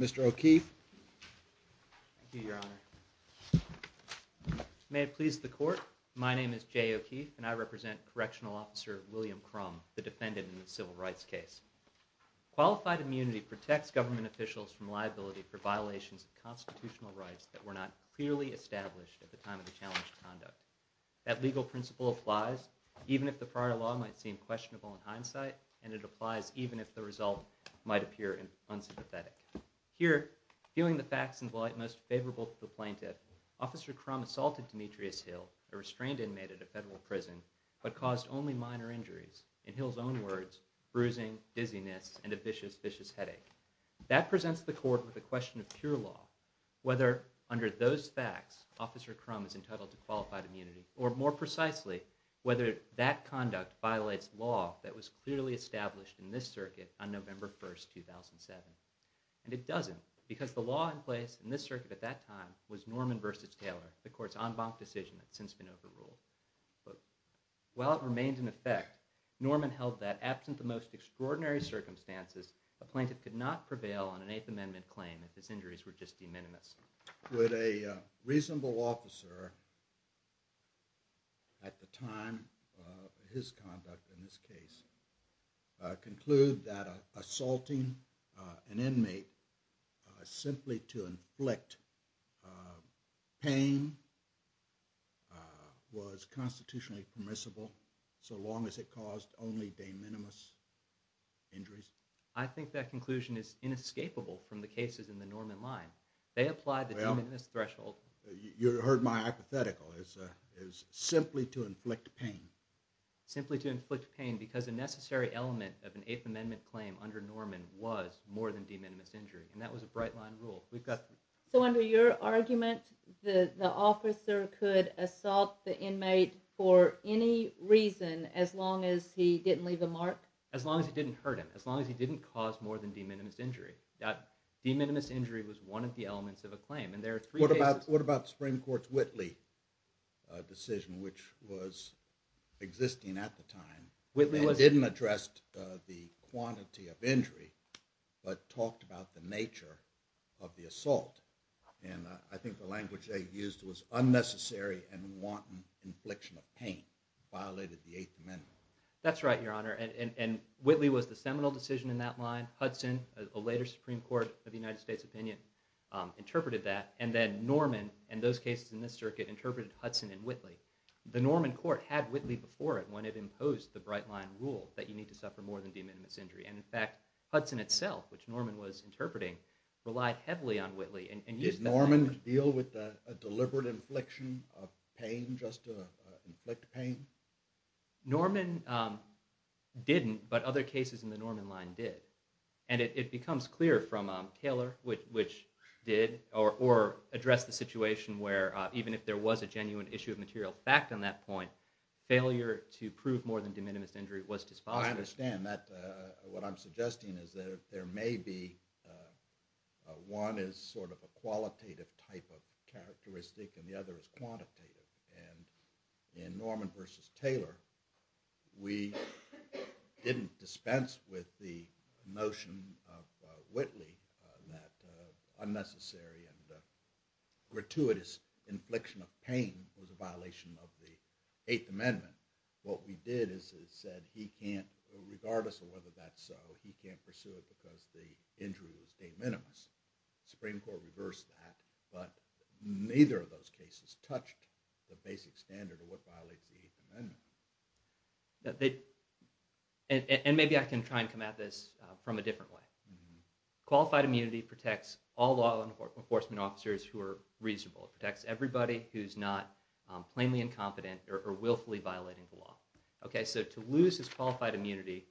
Mr. O'Keefe? May it please the Court, my name is Jay O'Keefe, and I represent Correctional Officer William Crum, the defendant in the Civil Rights case. Qualified immunity protects government officials from liability for violations of constitutional rights that were not clearly established at the time of the challenge of conduct. That legal principle applies even if the prior law might seem questionable in hindsight, and it applies even if the result might appear unsympathetic. Here, viewing the facts in the light most favorable to the plaintiff, Officer Crum assaulted Demetrius Hill, a restrained inmate at a federal prison, but caused only minor injuries. In Hill's own words, bruising, dizziness, and a vicious, vicious headache. That presents the Court with a question of pure law, whether, under those facts, Officer Crum is entitled to qualified immunity, or more precisely, whether that conduct violates law that was clearly established in this circuit on November 1st, 2007, and it doesn't, because the law in place in this circuit at that time was Norman v. Taylor, the Court's en banc decision that's since been overruled. While it remained in effect, Norman held that, absent the most extraordinary circumstances, a plaintiff could not prevail on an 8th Amendment claim if his injuries were just de minimis. Would a reasonable officer, at the time of his conduct in this case, conclude that assaulting an inmate simply to inflict pain was constitutionally permissible, so long as it caused only de minimis injuries? I think that conclusion is inescapable from the cases in the Norman line. They applied the de minimis threshold. You heard my hypothetical, is simply to inflict pain. Simply to inflict pain, because a necessary element of an 8th Amendment claim under Norman was more than de minimis injury, and that was a bright line rule. So under your argument, the officer could assault the inmate for any reason, as long as he didn't leave a mark? As long as he didn't hurt him. As long as he didn't cause more than de minimis injury. That de minimis injury was one of the elements of a claim, and there are three cases... What about the Supreme Court's Whitley decision, which was existing at the time? They didn't address the quantity of injury, but talked about the nature of the assault, and I think the language they used was unnecessary and wanton infliction of pain, violated the 8th Amendment. That's right, Your Honor, and Whitley was the seminal decision in that line. Hudson, a later Supreme Court of the United States opinion, interpreted that, and then Norman, and those cases in this circuit, interpreted Hudson and Whitley. The Norman court had Whitley before it when it imposed the bright line rule that you need to suffer more than de minimis injury, and in fact, Hudson itself, which Norman was interpreting, relied heavily on Whitley and used that... Did Norman deal with a deliberate infliction of pain, just to inflict pain? Norman didn't, but other cases in the Norman line did, and it becomes clear from Taylor, which did, or addressed the situation where, even if there was a genuine issue of material fact on that point, failure to prove more than de minimis injury was disfollowing... I understand that. What I'm suggesting is that there may be... One is sort of a qualitative type of characteristic, and the other is quantitative, and in Norman versus Taylor, we didn't dispense with the notion of Whitley, that unnecessary and gratuitous infliction of pain was a violation of the Eighth Amendment. What we did is said, he can't, regardless of whether that's so, he can't pursue it because the injury was de minimis. Supreme Court reversed that, but neither of those cases touched the basic standard of what violates the Eighth Amendment. And maybe I can try and come at this from a different way. Qualified immunity protects all law enforcement officers who are reasonable. It protects everybody who's not plainly incompetent or willfully violating the law. Okay, so to lose his qualified immunity,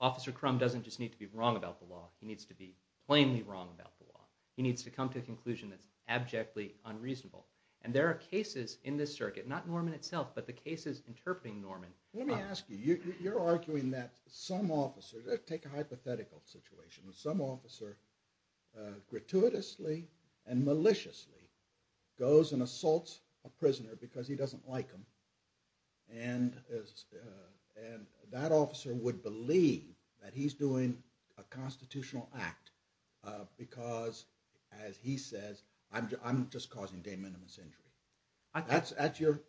Officer Crum doesn't just need to be wrong about the law, he needs to be plainly wrong about the law. He needs to come to a conclusion that's abjectly unreasonable, and there are cases in this circuit, not Norman itself, but the cases interpreting Norman. Let me ask you, you're arguing that some officer, let's take a hypothetical situation, that some officer gratuitously and maliciously goes and assaults a prisoner because he doesn't like him, and that officer would believe that he's doing a constitutional act because, as he says, I'm just causing de minimis injury. That's your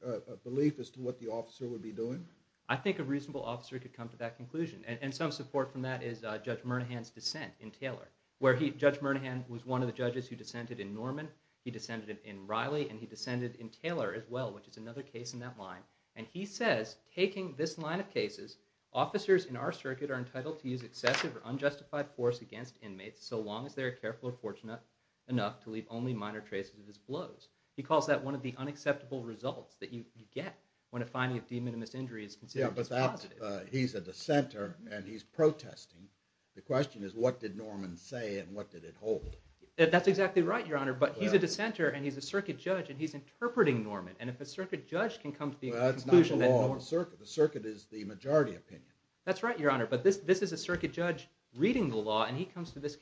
belief as to what the officer would be doing? I think a reasonable officer could come to that conclusion, and some support from that is Judge Murnahan's dissent in Taylor, where Judge Murnahan was one of the judges who dissented in Norman, he dissented in Riley, and he dissented in Taylor as well, which is another case in that line. And he says, taking this line of cases, officers in our circuit are entitled to use excessive or unjustified force against inmates so long as they are careful or fortunate enough to leave only minor traces of his blows. He calls that one of the unacceptable results that you get when a finding of de minimis injury is considered to be positive. He's a dissenter, and he's protesting. The question is, what did Norman say, and what did it hold? That's exactly right, Your Honor, but he's a dissenter, and he's a circuit judge, and he's interpreting Norman, and if a circuit judge can come to the conclusion that Norman Well, that's not the law of the circuit. The circuit is the majority opinion. That's right, Your Honor, but this is a circuit judge reading the law, and he comes to this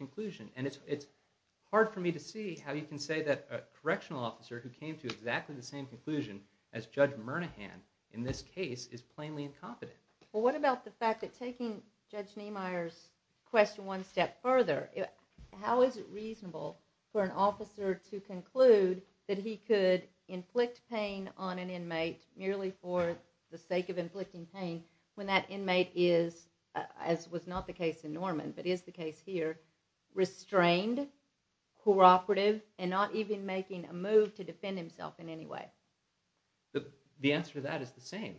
who came to exactly the same conclusion as Judge Murnahan in this case is plainly incompetent. Well, what about the fact that taking Judge Niemeyer's question one step further, how is it reasonable for an officer to conclude that he could inflict pain on an inmate merely for the sake of inflicting pain when that inmate is, as was not the case in Norman but is the case here, restrained, cooperative, and not even making a move to defend himself in any way? The answer to that is the same,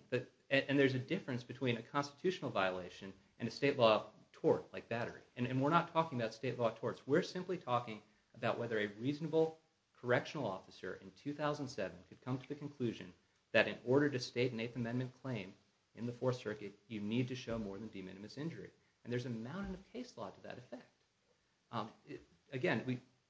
and there's a difference between a constitutional violation and a state law tort like battery, and we're not talking about state law torts. We're simply talking about whether a reasonable correctional officer in 2007 could come to the conclusion that in order to state an Eighth Amendment claim in the Fourth Circuit, you need to show more than de minimis injury, and there's a mountain of case law to that effect. Again,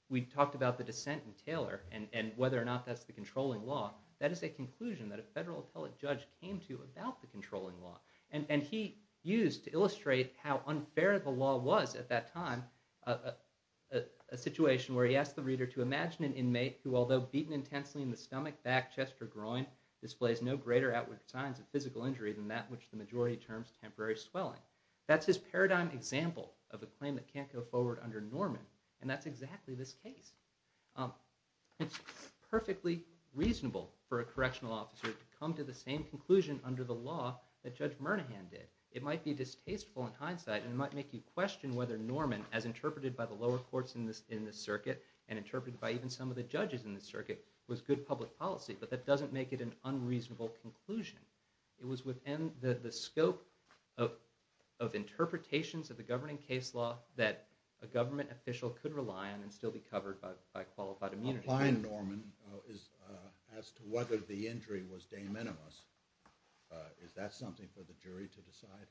we talked about the dissent in Taylor and whether or not that's the controlling law. That is a conclusion that a federal appellate judge came to about the controlling law, and he used to illustrate how unfair the law was at that time a situation where he asked the reader to imagine an inmate who, although beaten intensely in the stomach, back, chest, or groin, displays no greater outward signs of physical injury than that which the majority terms temporary swelling. That's his paradigm example of a claim that can't go forward under Norman, and that's exactly this case. It's perfectly reasonable for a correctional officer to come to the same conclusion under the law that Judge Murnahan did. It might be distasteful in hindsight, and it might make you question whether Norman, as interpreted by the lower courts in this circuit, and interpreted by even some of the judges in this circuit, was good public policy, but that doesn't make it an unreasonable conclusion. It was within the scope of interpretations of the governing case law that a government official could rely on and still be covered by qualified immunity. Applying Norman as to whether the injury was de minimis, is that something for the jury to decide?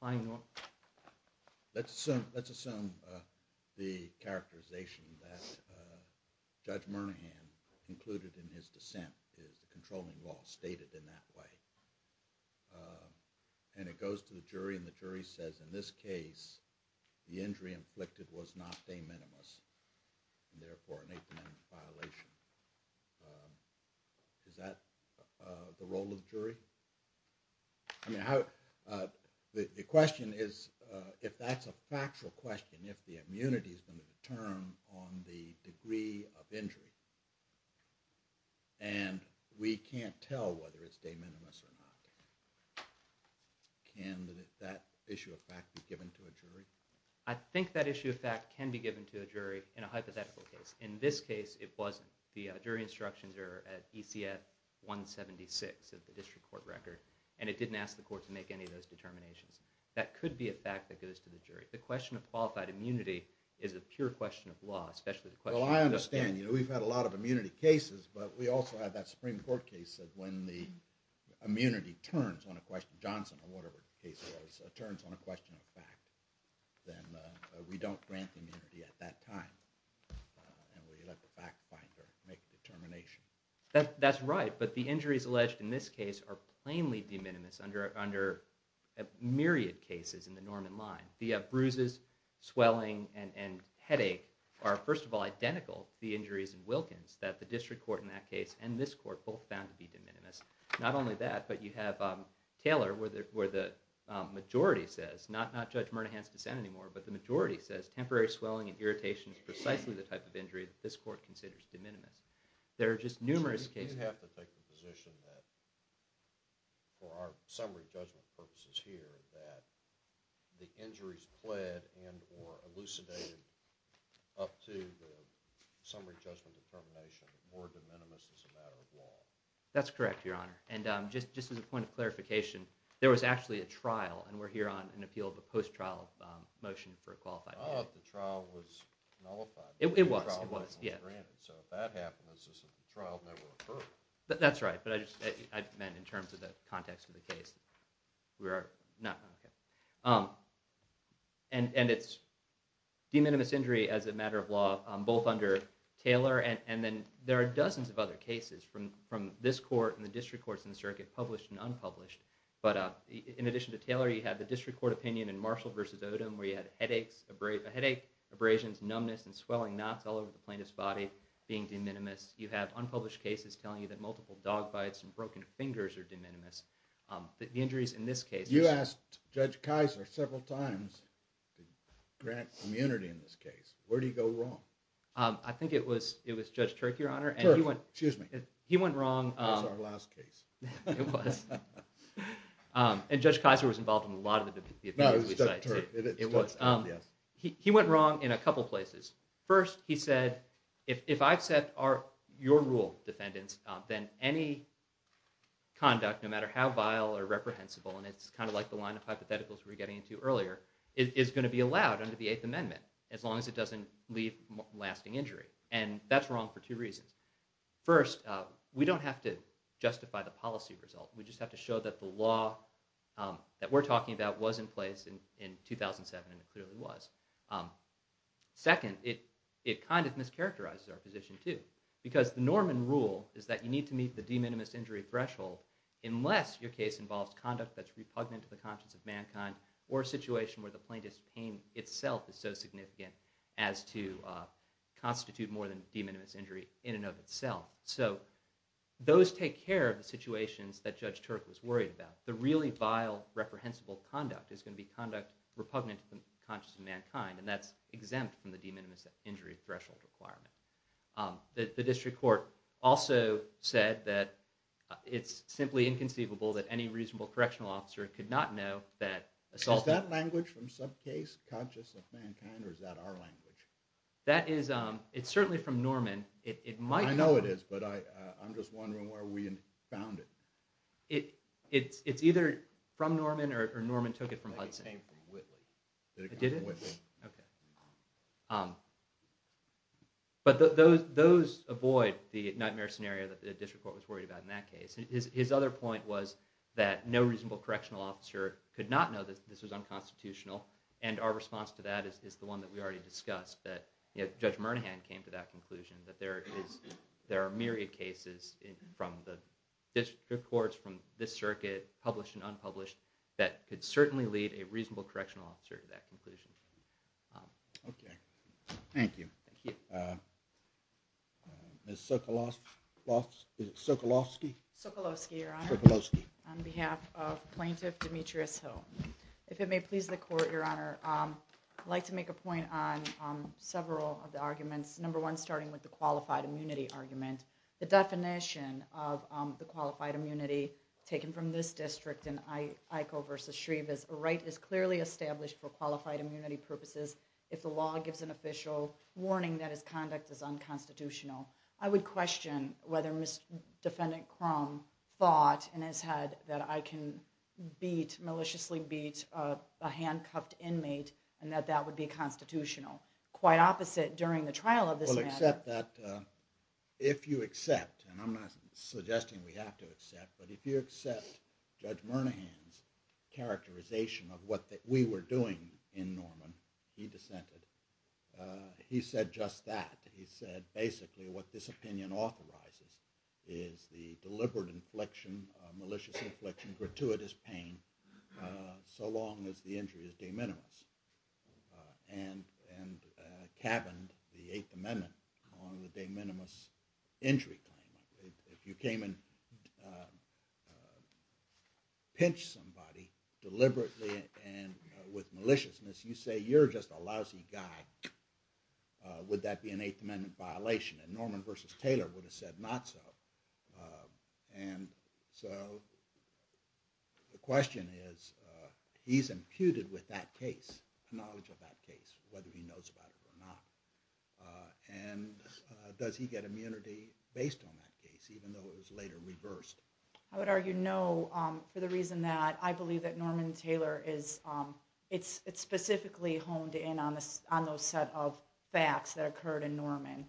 Applying Norman? Let's assume the characterization that Judge Murnahan concluded in his dissent is the controlling law, stated in that way. And it goes to the jury, and the jury says, in this case, the injury inflicted was not de minimis, and therefore an eighth amendment violation. Is that the role of the jury? The question is, if that's a factual question, if the immunity is going to determine on the degree of injury, and we can't tell whether it's de minimis or not, can that issue of fact be given to a jury? I think that issue of fact can be given to a jury in a hypothetical case. In this case, it wasn't. The jury instructions are at ECF 176 of the district court record, and it didn't ask the court to make any of those determinations. That could be a fact that goes to the jury. The question of qualified immunity is a pure question of law, especially the question of justice. Well, I understand. We've had a lot of immunity cases, but we also have that Supreme Court case that when the immunity turns on a question, Johnson or whatever the case was, turns on a question of fact, then we don't grant immunity at that time, and we let the fact finder make the determination. That's right, but the injuries alleged in this case are plainly de minimis under myriad cases in the Norman line. The bruises, swelling, and headache are, first of all, identical to the injuries in Wilkins that the district court in that case and this court both found to be de minimis. Not only that, but you have Taylor where the majority says, not Judge Murnahan's dissent anymore, but the majority says temporary swelling and irritation is precisely the type of injury that this court considers de minimis. There are just numerous cases. So you have to take the position that for our summary judgment purposes here, that the injuries pled and or elucidated up to the summary judgment determination were de minimis as a matter of law. That's correct, Your Honor. And just as a point of clarification, there was actually a trial, and we're here on an appeal of a post-trial motion for a qualified immunity. Oh, the trial was nullified. It was, it was, yeah. So if that happens, is the trial never occurred? That's right, but I just meant in terms of the context of the case. And it's de minimis injury as a matter of law, both under Taylor and then there are dozens of other cases from this court and the district courts in the circuit, published and unpublished. But in addition to Taylor, you have the district court opinion in Marshall v. Odom where you had headaches, abrasions, numbness and swelling knots all over the plaintiff's body being de minimis. You have unpublished cases telling you that multiple dog bites and broken fingers are de minimis. The injuries in this case... Judge Kaiser several times to grant immunity in this case. Where did he go wrong? I think it was Judge Turk, Your Honor. Turk, excuse me. He went wrong... That was our last case. It was. And Judge Kaiser was involved in a lot of the defendants. No, it was Judge Turk. It was. He went wrong in a couple places. First, he said, if I accept your rule, defendants, then any conduct, no matter how vile or reprehensible, and it's kind of like the line of hypotheticals we were getting into earlier, is going to be allowed under the Eighth Amendment, as long as it doesn't leave lasting injury. And that's wrong for two reasons. First, we don't have to justify the policy result. We just have to show that the law that we're talking about was in place in 2007, and it clearly was. Second, it kind of mischaracterizes our norm and rule, is that you need to meet the de minimis injury threshold unless your case involves conduct that's repugnant to the conscience of mankind, or a situation where the plaintiff's pain itself is so significant as to constitute more than de minimis injury in and of itself. So those take care of the situations that Judge Turk was worried about. The really vile, reprehensible conduct is going to be conduct repugnant to the conscience of mankind, and that's exempt from the de minimis injury threshold requirement. The district court also said that it's simply inconceivable that any reasonable correctional officer could not know that assault... Is that language from some case conscious of mankind, or is that our language? That is, it's certainly from Norman. I know it is, but I'm just wondering where we found it. It's either from Norman, or Norman took it from Hudson. I think it was from Hudson. But those avoid the nightmare scenario that the district court was worried about in that case. His other point was that no reasonable correctional officer could not know that this was unconstitutional, and our response to that is the one that we already discussed, that Judge Murnahan came to that conclusion, that there are myriad cases from the district courts, from this circuit, published and unpublished, that could certainly lead a reasonable correctional officer to that conclusion. Okay. Thank you. Thank you. Ms. Sokolofsky? Sokolofsky, Your Honor. Sokolofsky. On behalf of Plaintiff Demetrius Hill, if it may please the court, Your Honor, I'd like to make a point on several of the arguments, number one starting with the qualified immunity argument. The definition of the qualified immunity taken from this district in Iko v. Shreve is, a right is clearly established for qualified immunity purposes if the law gives an official warning that its conduct is unconstitutional. I would question whether Mr. Defendant Crum thought in his head that I can beat, maliciously beat a handcuffed inmate, and that that would be constitutional. Quite opposite during the trial of this matter. Well, except that if you accept, and I'm not suggesting we have to accept, but if you accept Judge Murnahan's characterization of what we were doing in Norman, he dissented, he said just that. He said basically what this opinion authorizes is the deliberate infliction, malicious infliction, gratuitous pain, so long as the injury is de minimis. And cabined the Eighth Amendment on the de case, if you can pinch somebody deliberately and with maliciousness, you say you're just a lousy guy, would that be an Eighth Amendment violation? And Norman v. Taylor would have said not so. And so the question is, he's imputed with that case, knowledge of that case, whether he knows about it or not. And does he get immunity based on that case, even though it was later reversed? I would argue no, for the reason that I believe that Norman v. Taylor is, it's specifically honed in on those set of facts that occurred in Norman.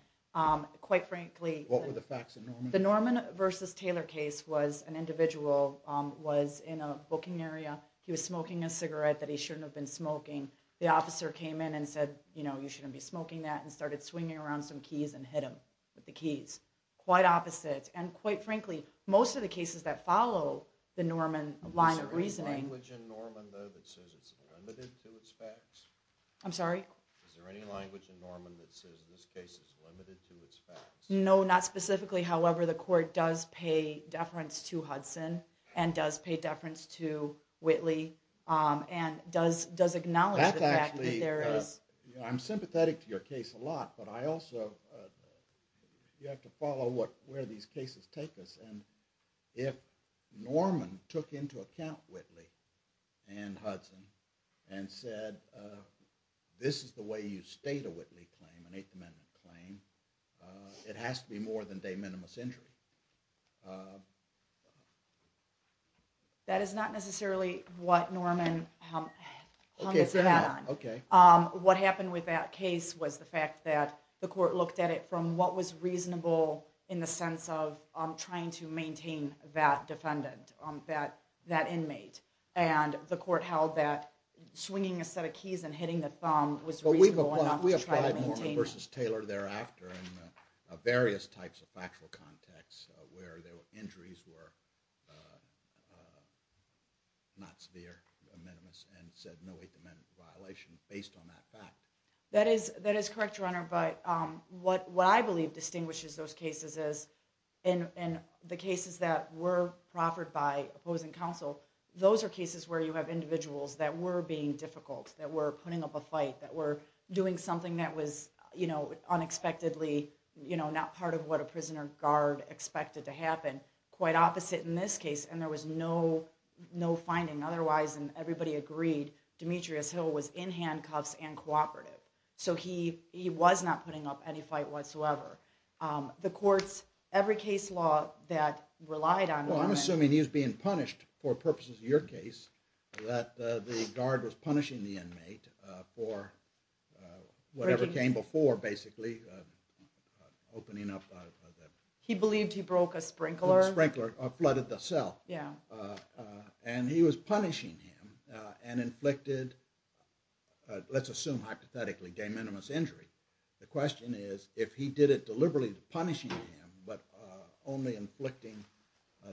Quite frankly... What were the facts in Norman? The Norman v. Taylor case was an individual was in a booking area, he was smoking a cigarette that he shouldn't have been smoking. The officer came in and said, you know, you shouldn't be smoking that, and started swinging around some keys and hit him with the keys. Quite opposite. And quite frankly, most of the cases that follow the Norman line of reasoning... Is there any language in Norman that says it's limited to its facts? I'm sorry? Is there any language in Norman that says this case is limited to its facts? No, not specifically. However, the court does pay deference to Hudson and does pay deference to Whitley and does acknowledge the fact that there is... I'm sympathetic to your case a lot, but I also... You have to follow where these cases take us, and if Norman took into account Whitley and Hudson and said, this is the way you state a Whitley claim, an Eighth Amendment claim, it has to be more than de minimis injury. That is not necessarily what Norman hung his hat on. What happened with that case was the fact that the court looked at it from what was reasonable in the sense of trying to maintain that defendant, that inmate. And the court held that swinging a set of keys and hitting the thumb was reasonable enough to try to maintain... We applied Norman v. Taylor thereafter in various types of factual contexts where the injuries were not severe, de minimis, and said no Eighth Amendment violation based on that fact. That is correct, Your Honor, but what I believe distinguishes those cases is in the cases that were proffered by opposing counsel, those are cases where you have individuals that were being difficult, that were putting up a fight, that were doing something that was unexpectedly not part of what a prisoner guard expected to happen. Quite opposite in this case, and there was no finding otherwise, and everybody agreed Demetrius Hill was in handcuffs and cooperative. So he was not putting up any fight whatsoever. The courts, every case law that relied on Norman... Well, I'm assuming he was being punished for purposes of your case, that the guard was being punished for whatever came before, basically, opening up... He believed he broke a sprinkler. A sprinkler, or flooded the cell. And he was punishing him and inflicted, let's assume hypothetically, de minimis injury. The question is, if he did it deliberately punishing him, but only inflicting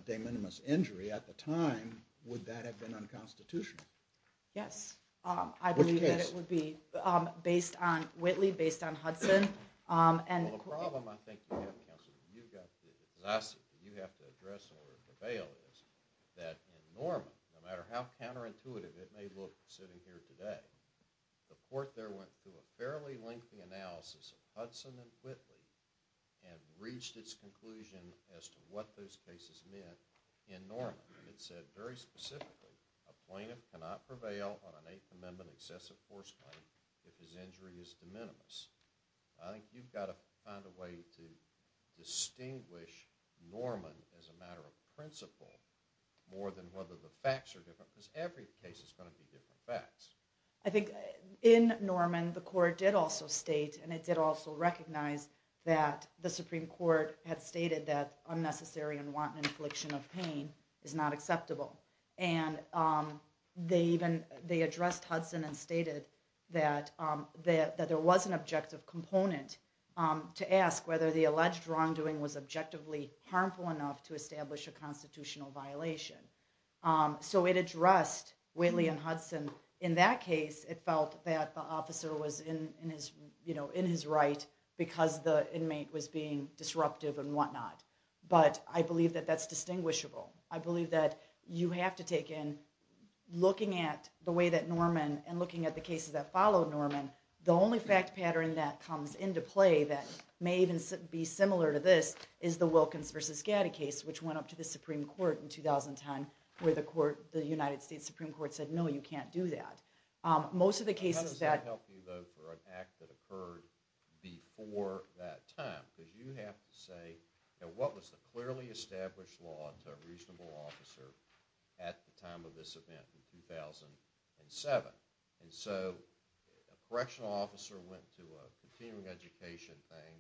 de minimis injury at the time, would that have been unconstitutional? Yes. I believe that it would be based on Whitley, based on Hudson, and... Well, the problem I think you have, counsel, that you've got to address in order to prevail is that in Norman, no matter how counterintuitive it may look sitting here today, the court there went through a fairly lengthy analysis of Hudson and Whitley and reached its conclusion as to what those cases meant in Norman. It said very specifically, a plaintiff cannot prevail on an Eighth Amendment excessive force claim if his injury is de minimis. I think you've got to find a way to distinguish Norman as a matter of principle more than whether the facts are different, because every case is going to be different facts. I think in Norman, the court did also state, and it did also recognize, that the Supreme Court had stated that unnecessary and wanton infliction of pain is not acceptable. And they addressed Hudson and stated that there was an objective component to ask whether the alleged wrongdoing was objectively harmful enough to establish a constitutional violation. So it addressed Whitley and Hudson. In that case, it felt that the officer was in his right because the inmate was being disruptive and whatnot. But I believe that that's distinguishable. I believe that you have to take in looking at the way that Norman and looking at the cases that follow Norman, the only fact pattern that comes into play that may even be similar to this is the Wilkins v. Gaddy case, which went up to the Supreme Court in 2010, where the United States Supreme Court said, no, you can't do that. How does that help you, though, for an act that occurred before that time? Because you have to say, what was the clearly established law to a reasonable officer at the time of this event in 2007? And so a correctional officer went to a continuing education thing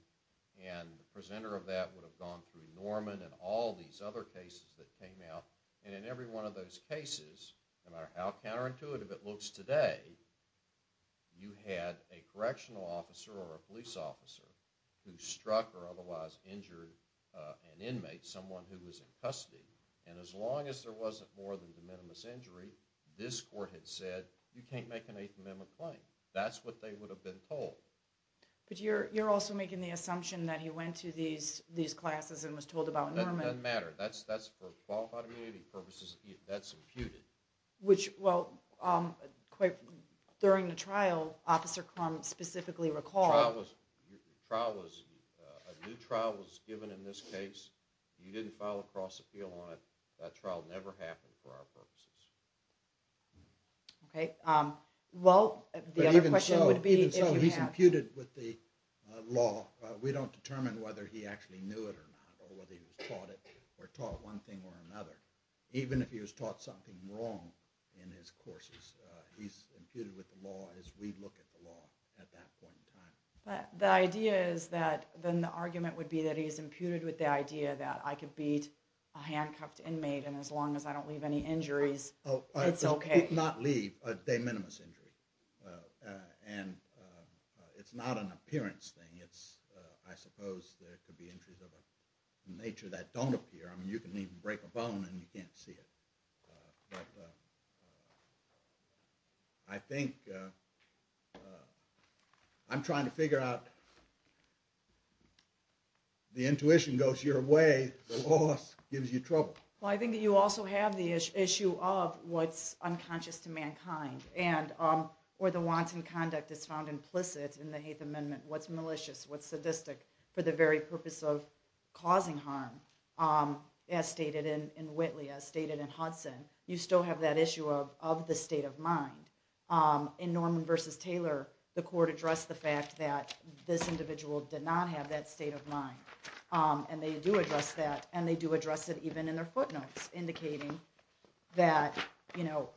and the presenter of that would have gone through Norman and all these other cases that you had a correctional officer or a police officer who struck or otherwise injured an inmate, someone who was in custody. And as long as there wasn't more than de minimis injury, this court had said, you can't make an eighth amendment claim. That's what they would have been told. But you're also making the assumption that he went to these classes and was told about Norman. That doesn't matter. That's for qualified immunity purposes, that's imputed. Which, well, during the trial, Officer Crum specifically recalled The trial was, a new trial was given in this case. You didn't file a cross appeal on it. That trial never happened for our purposes. Okay, well, the other question would be Even so, he's imputed with the law. We don't determine whether he actually knew it or not or whether he was taught it or taught one thing or another. Even if he was taught something wrong in his courses, he's imputed with the law as we look at the law at that point in time. But the idea is that, then the argument would be that he's imputed with the idea that I could beat a handcuffed inmate and as long as I don't leave any injuries, it's okay. Not leave, a de minimis injury. And it's not an appearance thing. It's, I suppose, there could be injuries of a nature that don't appear. I mean, you can even break a bone and you can't see it. But, I think, I'm trying to figure out, the intuition goes your way, the loss gives you trouble. Well, I think that you also have the issue of what's unconscious to mankind and, or the wanton conduct is found implicit in the Haitham Amendment. What's malicious? What's sadistic? For the very purpose of causing harm. As stated in Whitley, as stated in Hudson, you still have that issue of the state of mind. In Norman versus Taylor, the court addressed the fact that this individual did not have that state of mind. And they do address that and they do address it even in their footnotes indicating that, you know,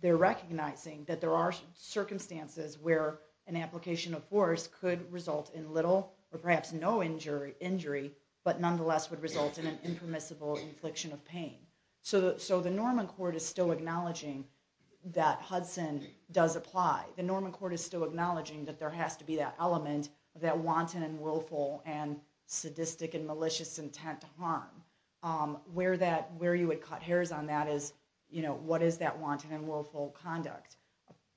they're recognizing that there are circumstances where an application of force could result in little, or perhaps no injury, but nonetheless would result in an impermissible infliction of pain. So the Norman court is still acknowledging that Hudson does apply. The Norman court is still acknowledging that there has to be that element of that wanton and willful and sadistic and malicious intent to harm. Where you would cut hairs on that is, you know, what is that wanton and willful conduct?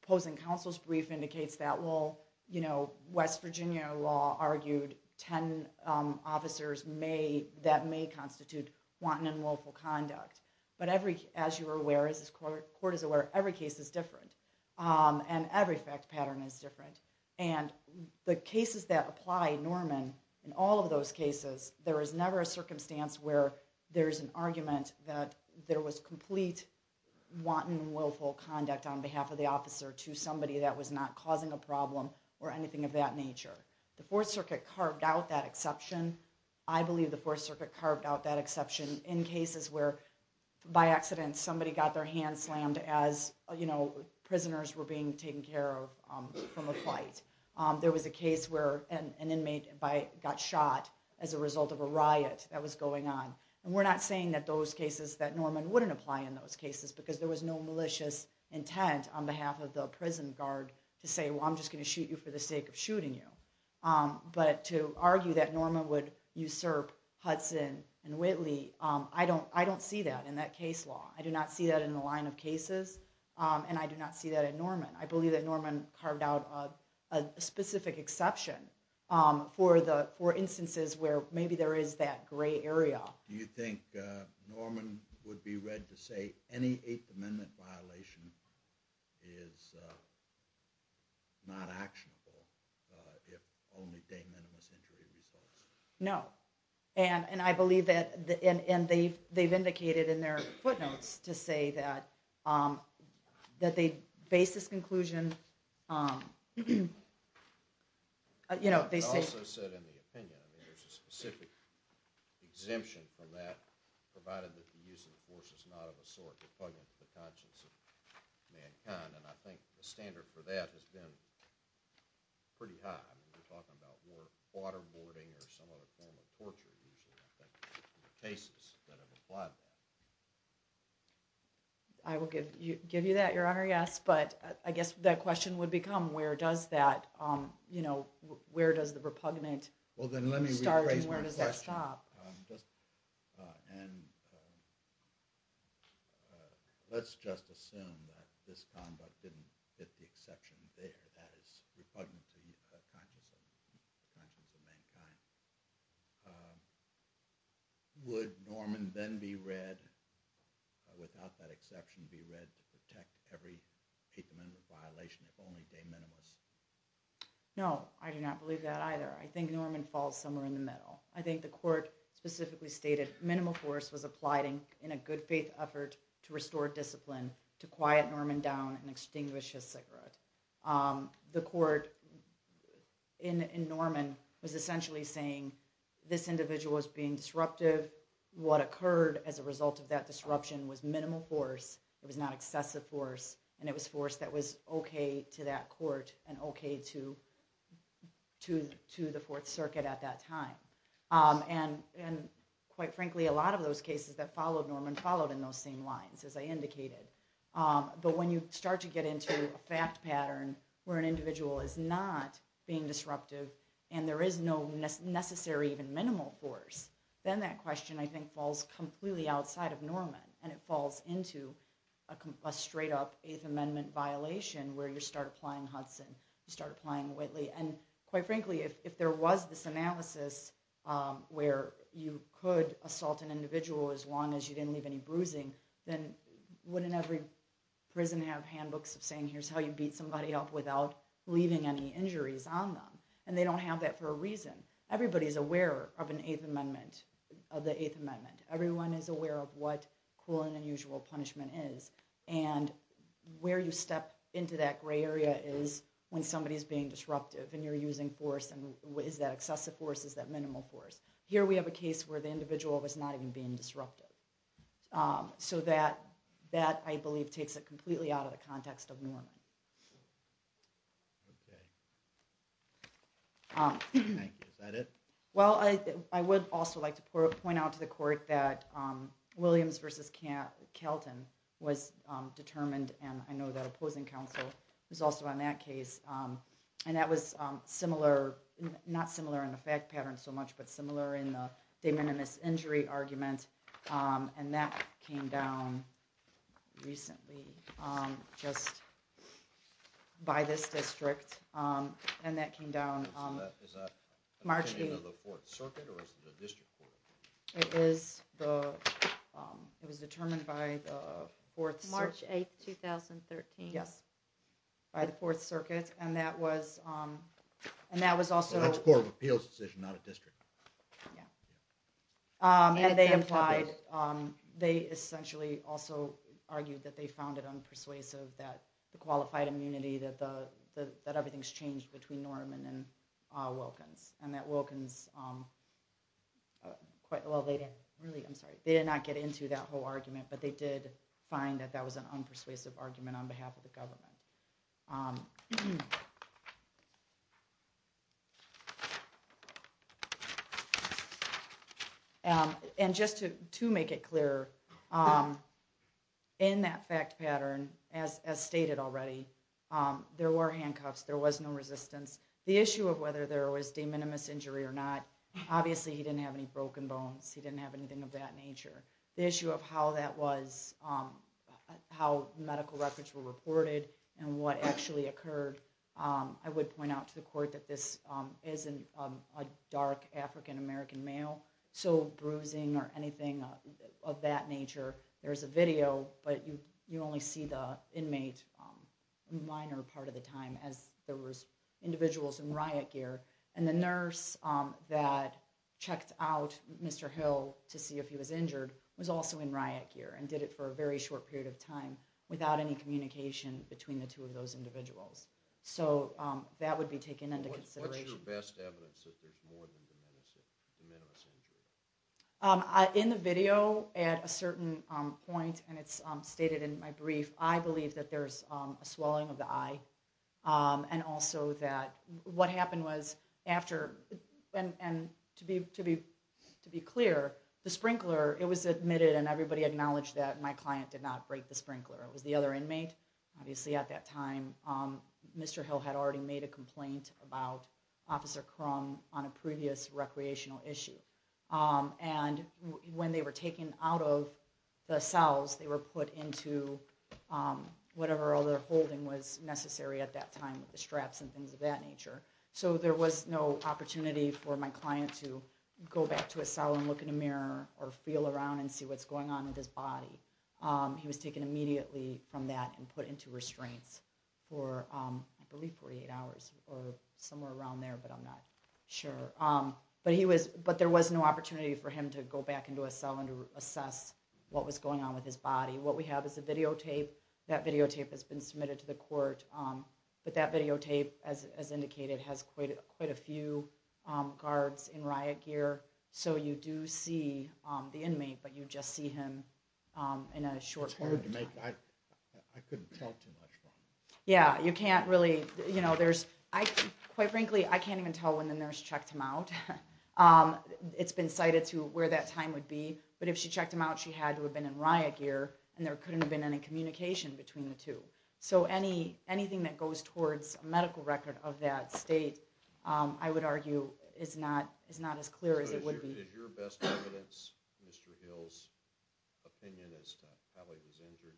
Opposing counsel's brief indicates that. Well, you know, West Virginia law argued 10 officers that may constitute wanton and willful conduct. But as you are aware, as this court is aware, every case is different. And every fact pattern is different. And the cases that apply Norman, in all of those cases, there is never a circumstance where there is an argument that there was not causing a problem or anything of that nature. The Fourth Circuit carved out that exception. I believe the Fourth Circuit carved out that exception in cases where by accident somebody got their hand slammed as, you know, prisoners were being taken care of from a fight. There was a case where an inmate got shot as a result of a riot that was going on. And we're not saying that those cases, that Norman wouldn't apply in those cases to say, well, I'm just going to shoot you for the sake of shooting you. But to argue that Norman would usurp Hudson and Whitley, I don't see that in that case law. I do not see that in the line of cases. And I do not see that in Norman. I believe that Norman carved out a specific exception for instances where maybe there is that gray area. Do you think Norman would be read to say any Eighth Amendment violation is not actionable if only de minimis injury results? No. And I believe that, and they've indicated in their footnotes to say that they base this provided that the use of force is not of a sort repugnant to the conscience of mankind. And I think the standard for that has been pretty high. We're talking about waterboarding or some other form of torture usually, I think, in the cases that have applied that. I will give you that, Your Honor, yes. But I guess that question would become where does that, you know, where does the repugnant start and where does that stop? Let's just assume that this conduct didn't hit the exception there, that it's repugnant to the conscience of mankind. Would Norman then be read, without that exception, be read to protect every Eighth Amendment violation if only de minimis? No, I do not believe that either. I think Norman falls somewhere in the middle. I think the court specifically stated minimal force was applied in a good faith effort to restore discipline to quiet Norman down and extinguish his cigarette. The court in Norman was essentially saying this individual was being disruptive. What occurred as a result of that disruption was minimal force. It was not excessive force. And it was force that was okay to that court and okay to the Fourth Circuit at that time. And quite frankly, a lot of those cases that followed Norman followed in those same lines, as I indicated. But when you start to get into a fact pattern where an individual is not being disruptive and there is no necessary even minimal force, then that question, I think, falls completely outside of Norman and it falls into a straight up Eighth Amendment violation where you start applying Hudson, you start applying Whitley. And quite frankly, if there was this analysis where you could assault an individual as long as you didn't leave any bruising, then wouldn't every prison have handbooks of saying here's how you beat somebody up without leaving any injuries on them? And they don't have that for a reason. Everybody is aware of an Eighth Amendment, of the Eighth Amendment. Everyone is aware of what cruel and unusual punishment is. And where you step into that gray area is when somebody is being disruptive and you're using force. Is that excessive force? Is that minimal force? Here we have a case where the individual was not even being disruptive. So that, I believe, takes it completely out of the context of Norman. I would also like to point out to the court that Williams v. Kelton was determined and I know that opposing counsel was also on that case and that was similar, not similar in the fact pattern so much, but similar in the de minimis injury argument and that came down recently just by this district. And that came down March 8, 2013. By the Fourth argued that they found it unpersuasive that the qualified immunity, that everything's changed between Norman and Wilkins. And that Wilkins, well, they did not get into that whole argument, but they did find that that was an unpersuasive argument on behalf of And just to make it clearer, in that fact pattern, as stated already, there were handcuffs, there was no resistance. The issue of whether there was de minimis injury or not, obviously he didn't have any broken bones, he didn't have anything of that nature. The issue of how that was, how medical records were reported and what actually occurred, I would point out to the court that this is a dark African American male, so bruising or anything of that nature, there's a video, but you only see the inmate a minor part of the time as there was individuals in riot gear. And the nurse that checked out Mr. Hill to see if he was injured was also in riot gear and did it for a very short period of time without any communication between the two of those individuals. So that would be taken into consideration. What's your best evidence that there's more than de minimis injury? In the video, at a certain point, and it's stated in my brief, I believe that there's a swelling of the eye and also that what happened was after, and to be clear, the sprinkler, it was admitted and everybody acknowledged that my client did not break the sprinkler, it was the other inmate. Obviously at that time, Mr. Hill had already made a complaint about Officer Crum on a previous recreational issue. And when they were taken out of the cells, they were put into whatever other holding was necessary at that time, the straps and things of that nature. So there was no opportunity for my client to go back to a cell and look in a mirror or feel around and see what's going on with his body. He was taken immediately from that and put into restraints for, I believe, 48 hours or somewhere around there, but I'm not sure. But there was no opportunity for him to go back into a cell and assess what was going on with his body. What we have is a videotape. That videotape has been submitted to the court. But that see the inmate, but you just see him in a short period of time. It's hard to make, I couldn't tell too much from it. Yeah, you can't really, you know, there's, quite frankly, I can't even tell when the nurse checked him out. It's been cited to where that time would be. But if she checked him out, she had to have been in riot gear and there couldn't have been any communication between the two. So anything that goes towards a medical record of that state, I would argue, is not as clear as it would be. Is your best evidence, Mr. Hill's, opinion as to how he was injured?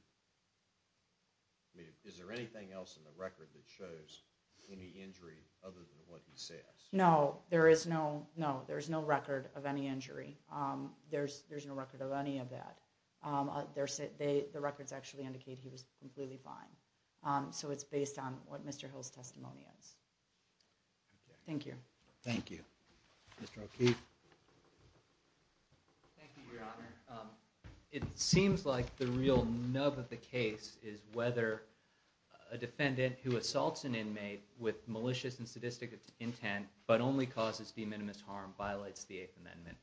I mean, is there anything else in the record that shows any injury other than what he says? No, there is no record of any injury. There's no record of any of that. The records actually indicate he was completely fine. So it's based on what Mr. Hill's testimony is. Thank you. Thank you. Mr. O'Keefe. Thank you, Your Honor. It seems like the real nub of the case is whether a defendant who assaults an inmate with malicious and sadistic intent, but only causes de minimis harm, violates the Eighth Amendment.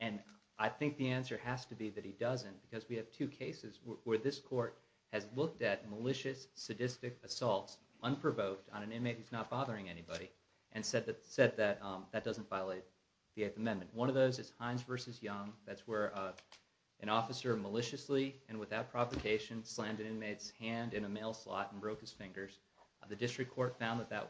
And I think the answer has to be that he doesn't, because we have two cases where this court has looked at malicious, sadistic assaults, unprovoked, on an inmate who's not bothering anybody, and said that that doesn't violate the Eighth Amendment. One of those is Hines v. Young. That's where an officer maliciously and without provocation slammed an inmate's hand in a mail slot and broke his fingers. The district court found that that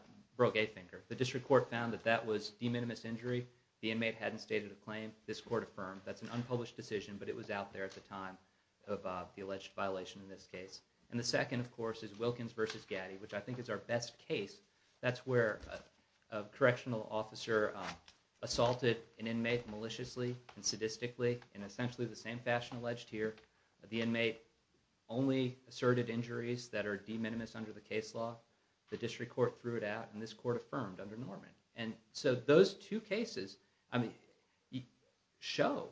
was de minimis injury. The inmate hadn't stated a claim. This court affirmed that's an unpublished decision, but it was out there at the time of the alleged violation in this case. And the second, of course, is Wilkins v. Gaddy, which I think is our best case. That's where a correctional officer assaulted an inmate maliciously and sadistically in essentially the same fashion alleged here. The inmate only asserted injuries that are de minimis under the case law. The district court threw it out, and this court affirmed under Norman. And so those two cases show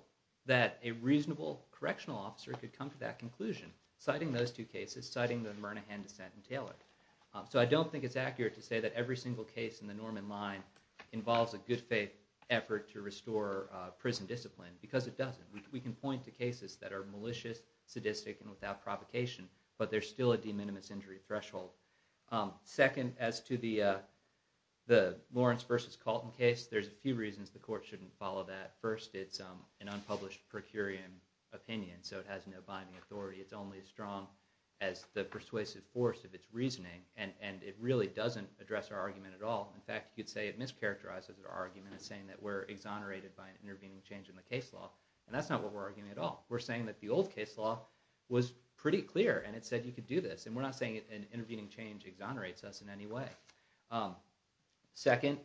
that a reasonable correctional officer could come to that conclusion, citing those two cases, citing the Murnahan dissent in Taylor. So I don't think it's accurate to say that every single case in the Norman line involves a good faith effort to restore prison discipline, because it doesn't. We can point to cases that are malicious, sadistic, and without provocation, but there's still a de minimis injury threshold. Second, as to the Lawrence v. Colton case, there's a few reasons the court shouldn't follow that. First, it's an unpublished per curiam opinion, so it has no binding authority. It's only as strong as the persuasive force of its reasoning, and it really doesn't address our argument at all. In fact, you could say it mischaracterizes our argument in saying that we're exonerated by an intervening change in the case law. And that's not what we're arguing at all. We're saying that the old case law was pretty clear, and it said you could do this. And we're not saying an intervening change exonerates us in any way. Second,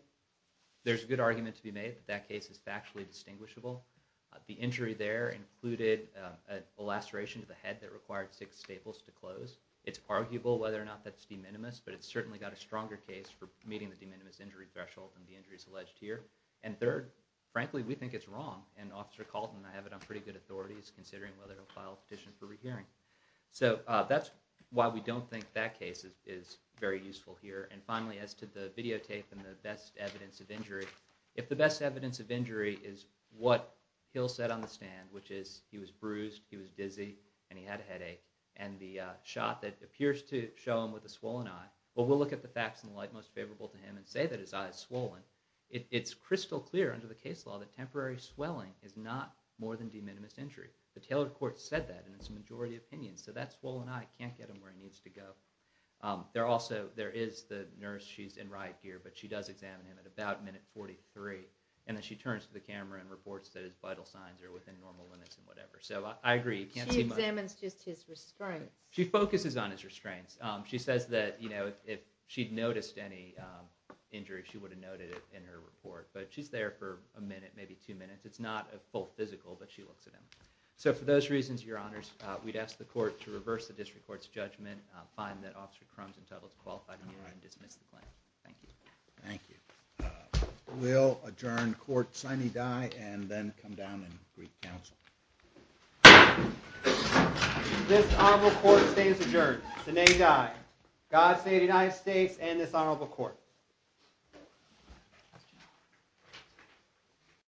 there's a good argument to be made that that case is factually distinguishable. The injury there included a laceration to the head that required six staples to close. It's arguable whether or not that's de minimis, but it's certainly got a stronger case for meeting the de minimis injury threshold than the injuries alleged here. And third, frankly, we think it's wrong, and Officer Colton and I have it on pretty good authorities considering whether to file a petition for rehearing. So that's why we don't think that case is very useful here. And finally, as to the videotape and the best evidence of injury, if the best evidence of injury is what Hill said on the stand, which is he was bruised, he was dizzy, and he had a headache, and the shot that appears to show him with a swollen eye, well, we'll look at the facts and the light most favorable to him and say that his eye is swollen. It's crystal clear under the case law that temporary swelling is not more than de minimis injury. The tailored court said that in its majority opinion. So that also, there is the nurse, she's in riot gear, but she does examine him at about minute 43, and then she turns to the camera and reports that his vital signs are within normal limits and whatever. So I agree, you can't see much. She examines just his restraints. She focuses on his restraints. She says that, you know, if she'd noticed any injury, she would have noted it in her report. But she's there for a minute, maybe two minutes. It's not a full physical, but she looks at him. So for those reasons, Your Honors, we'd ask the court to reverse the district court's judgment, find that Officer Crum's entitled to qualify the hearing and dismiss the claim. Thank you. Thank you. We'll adjourn court sine die and then come down and greet counsel. This honorable court stays adjourned sine die. God save the United States and this honorable court.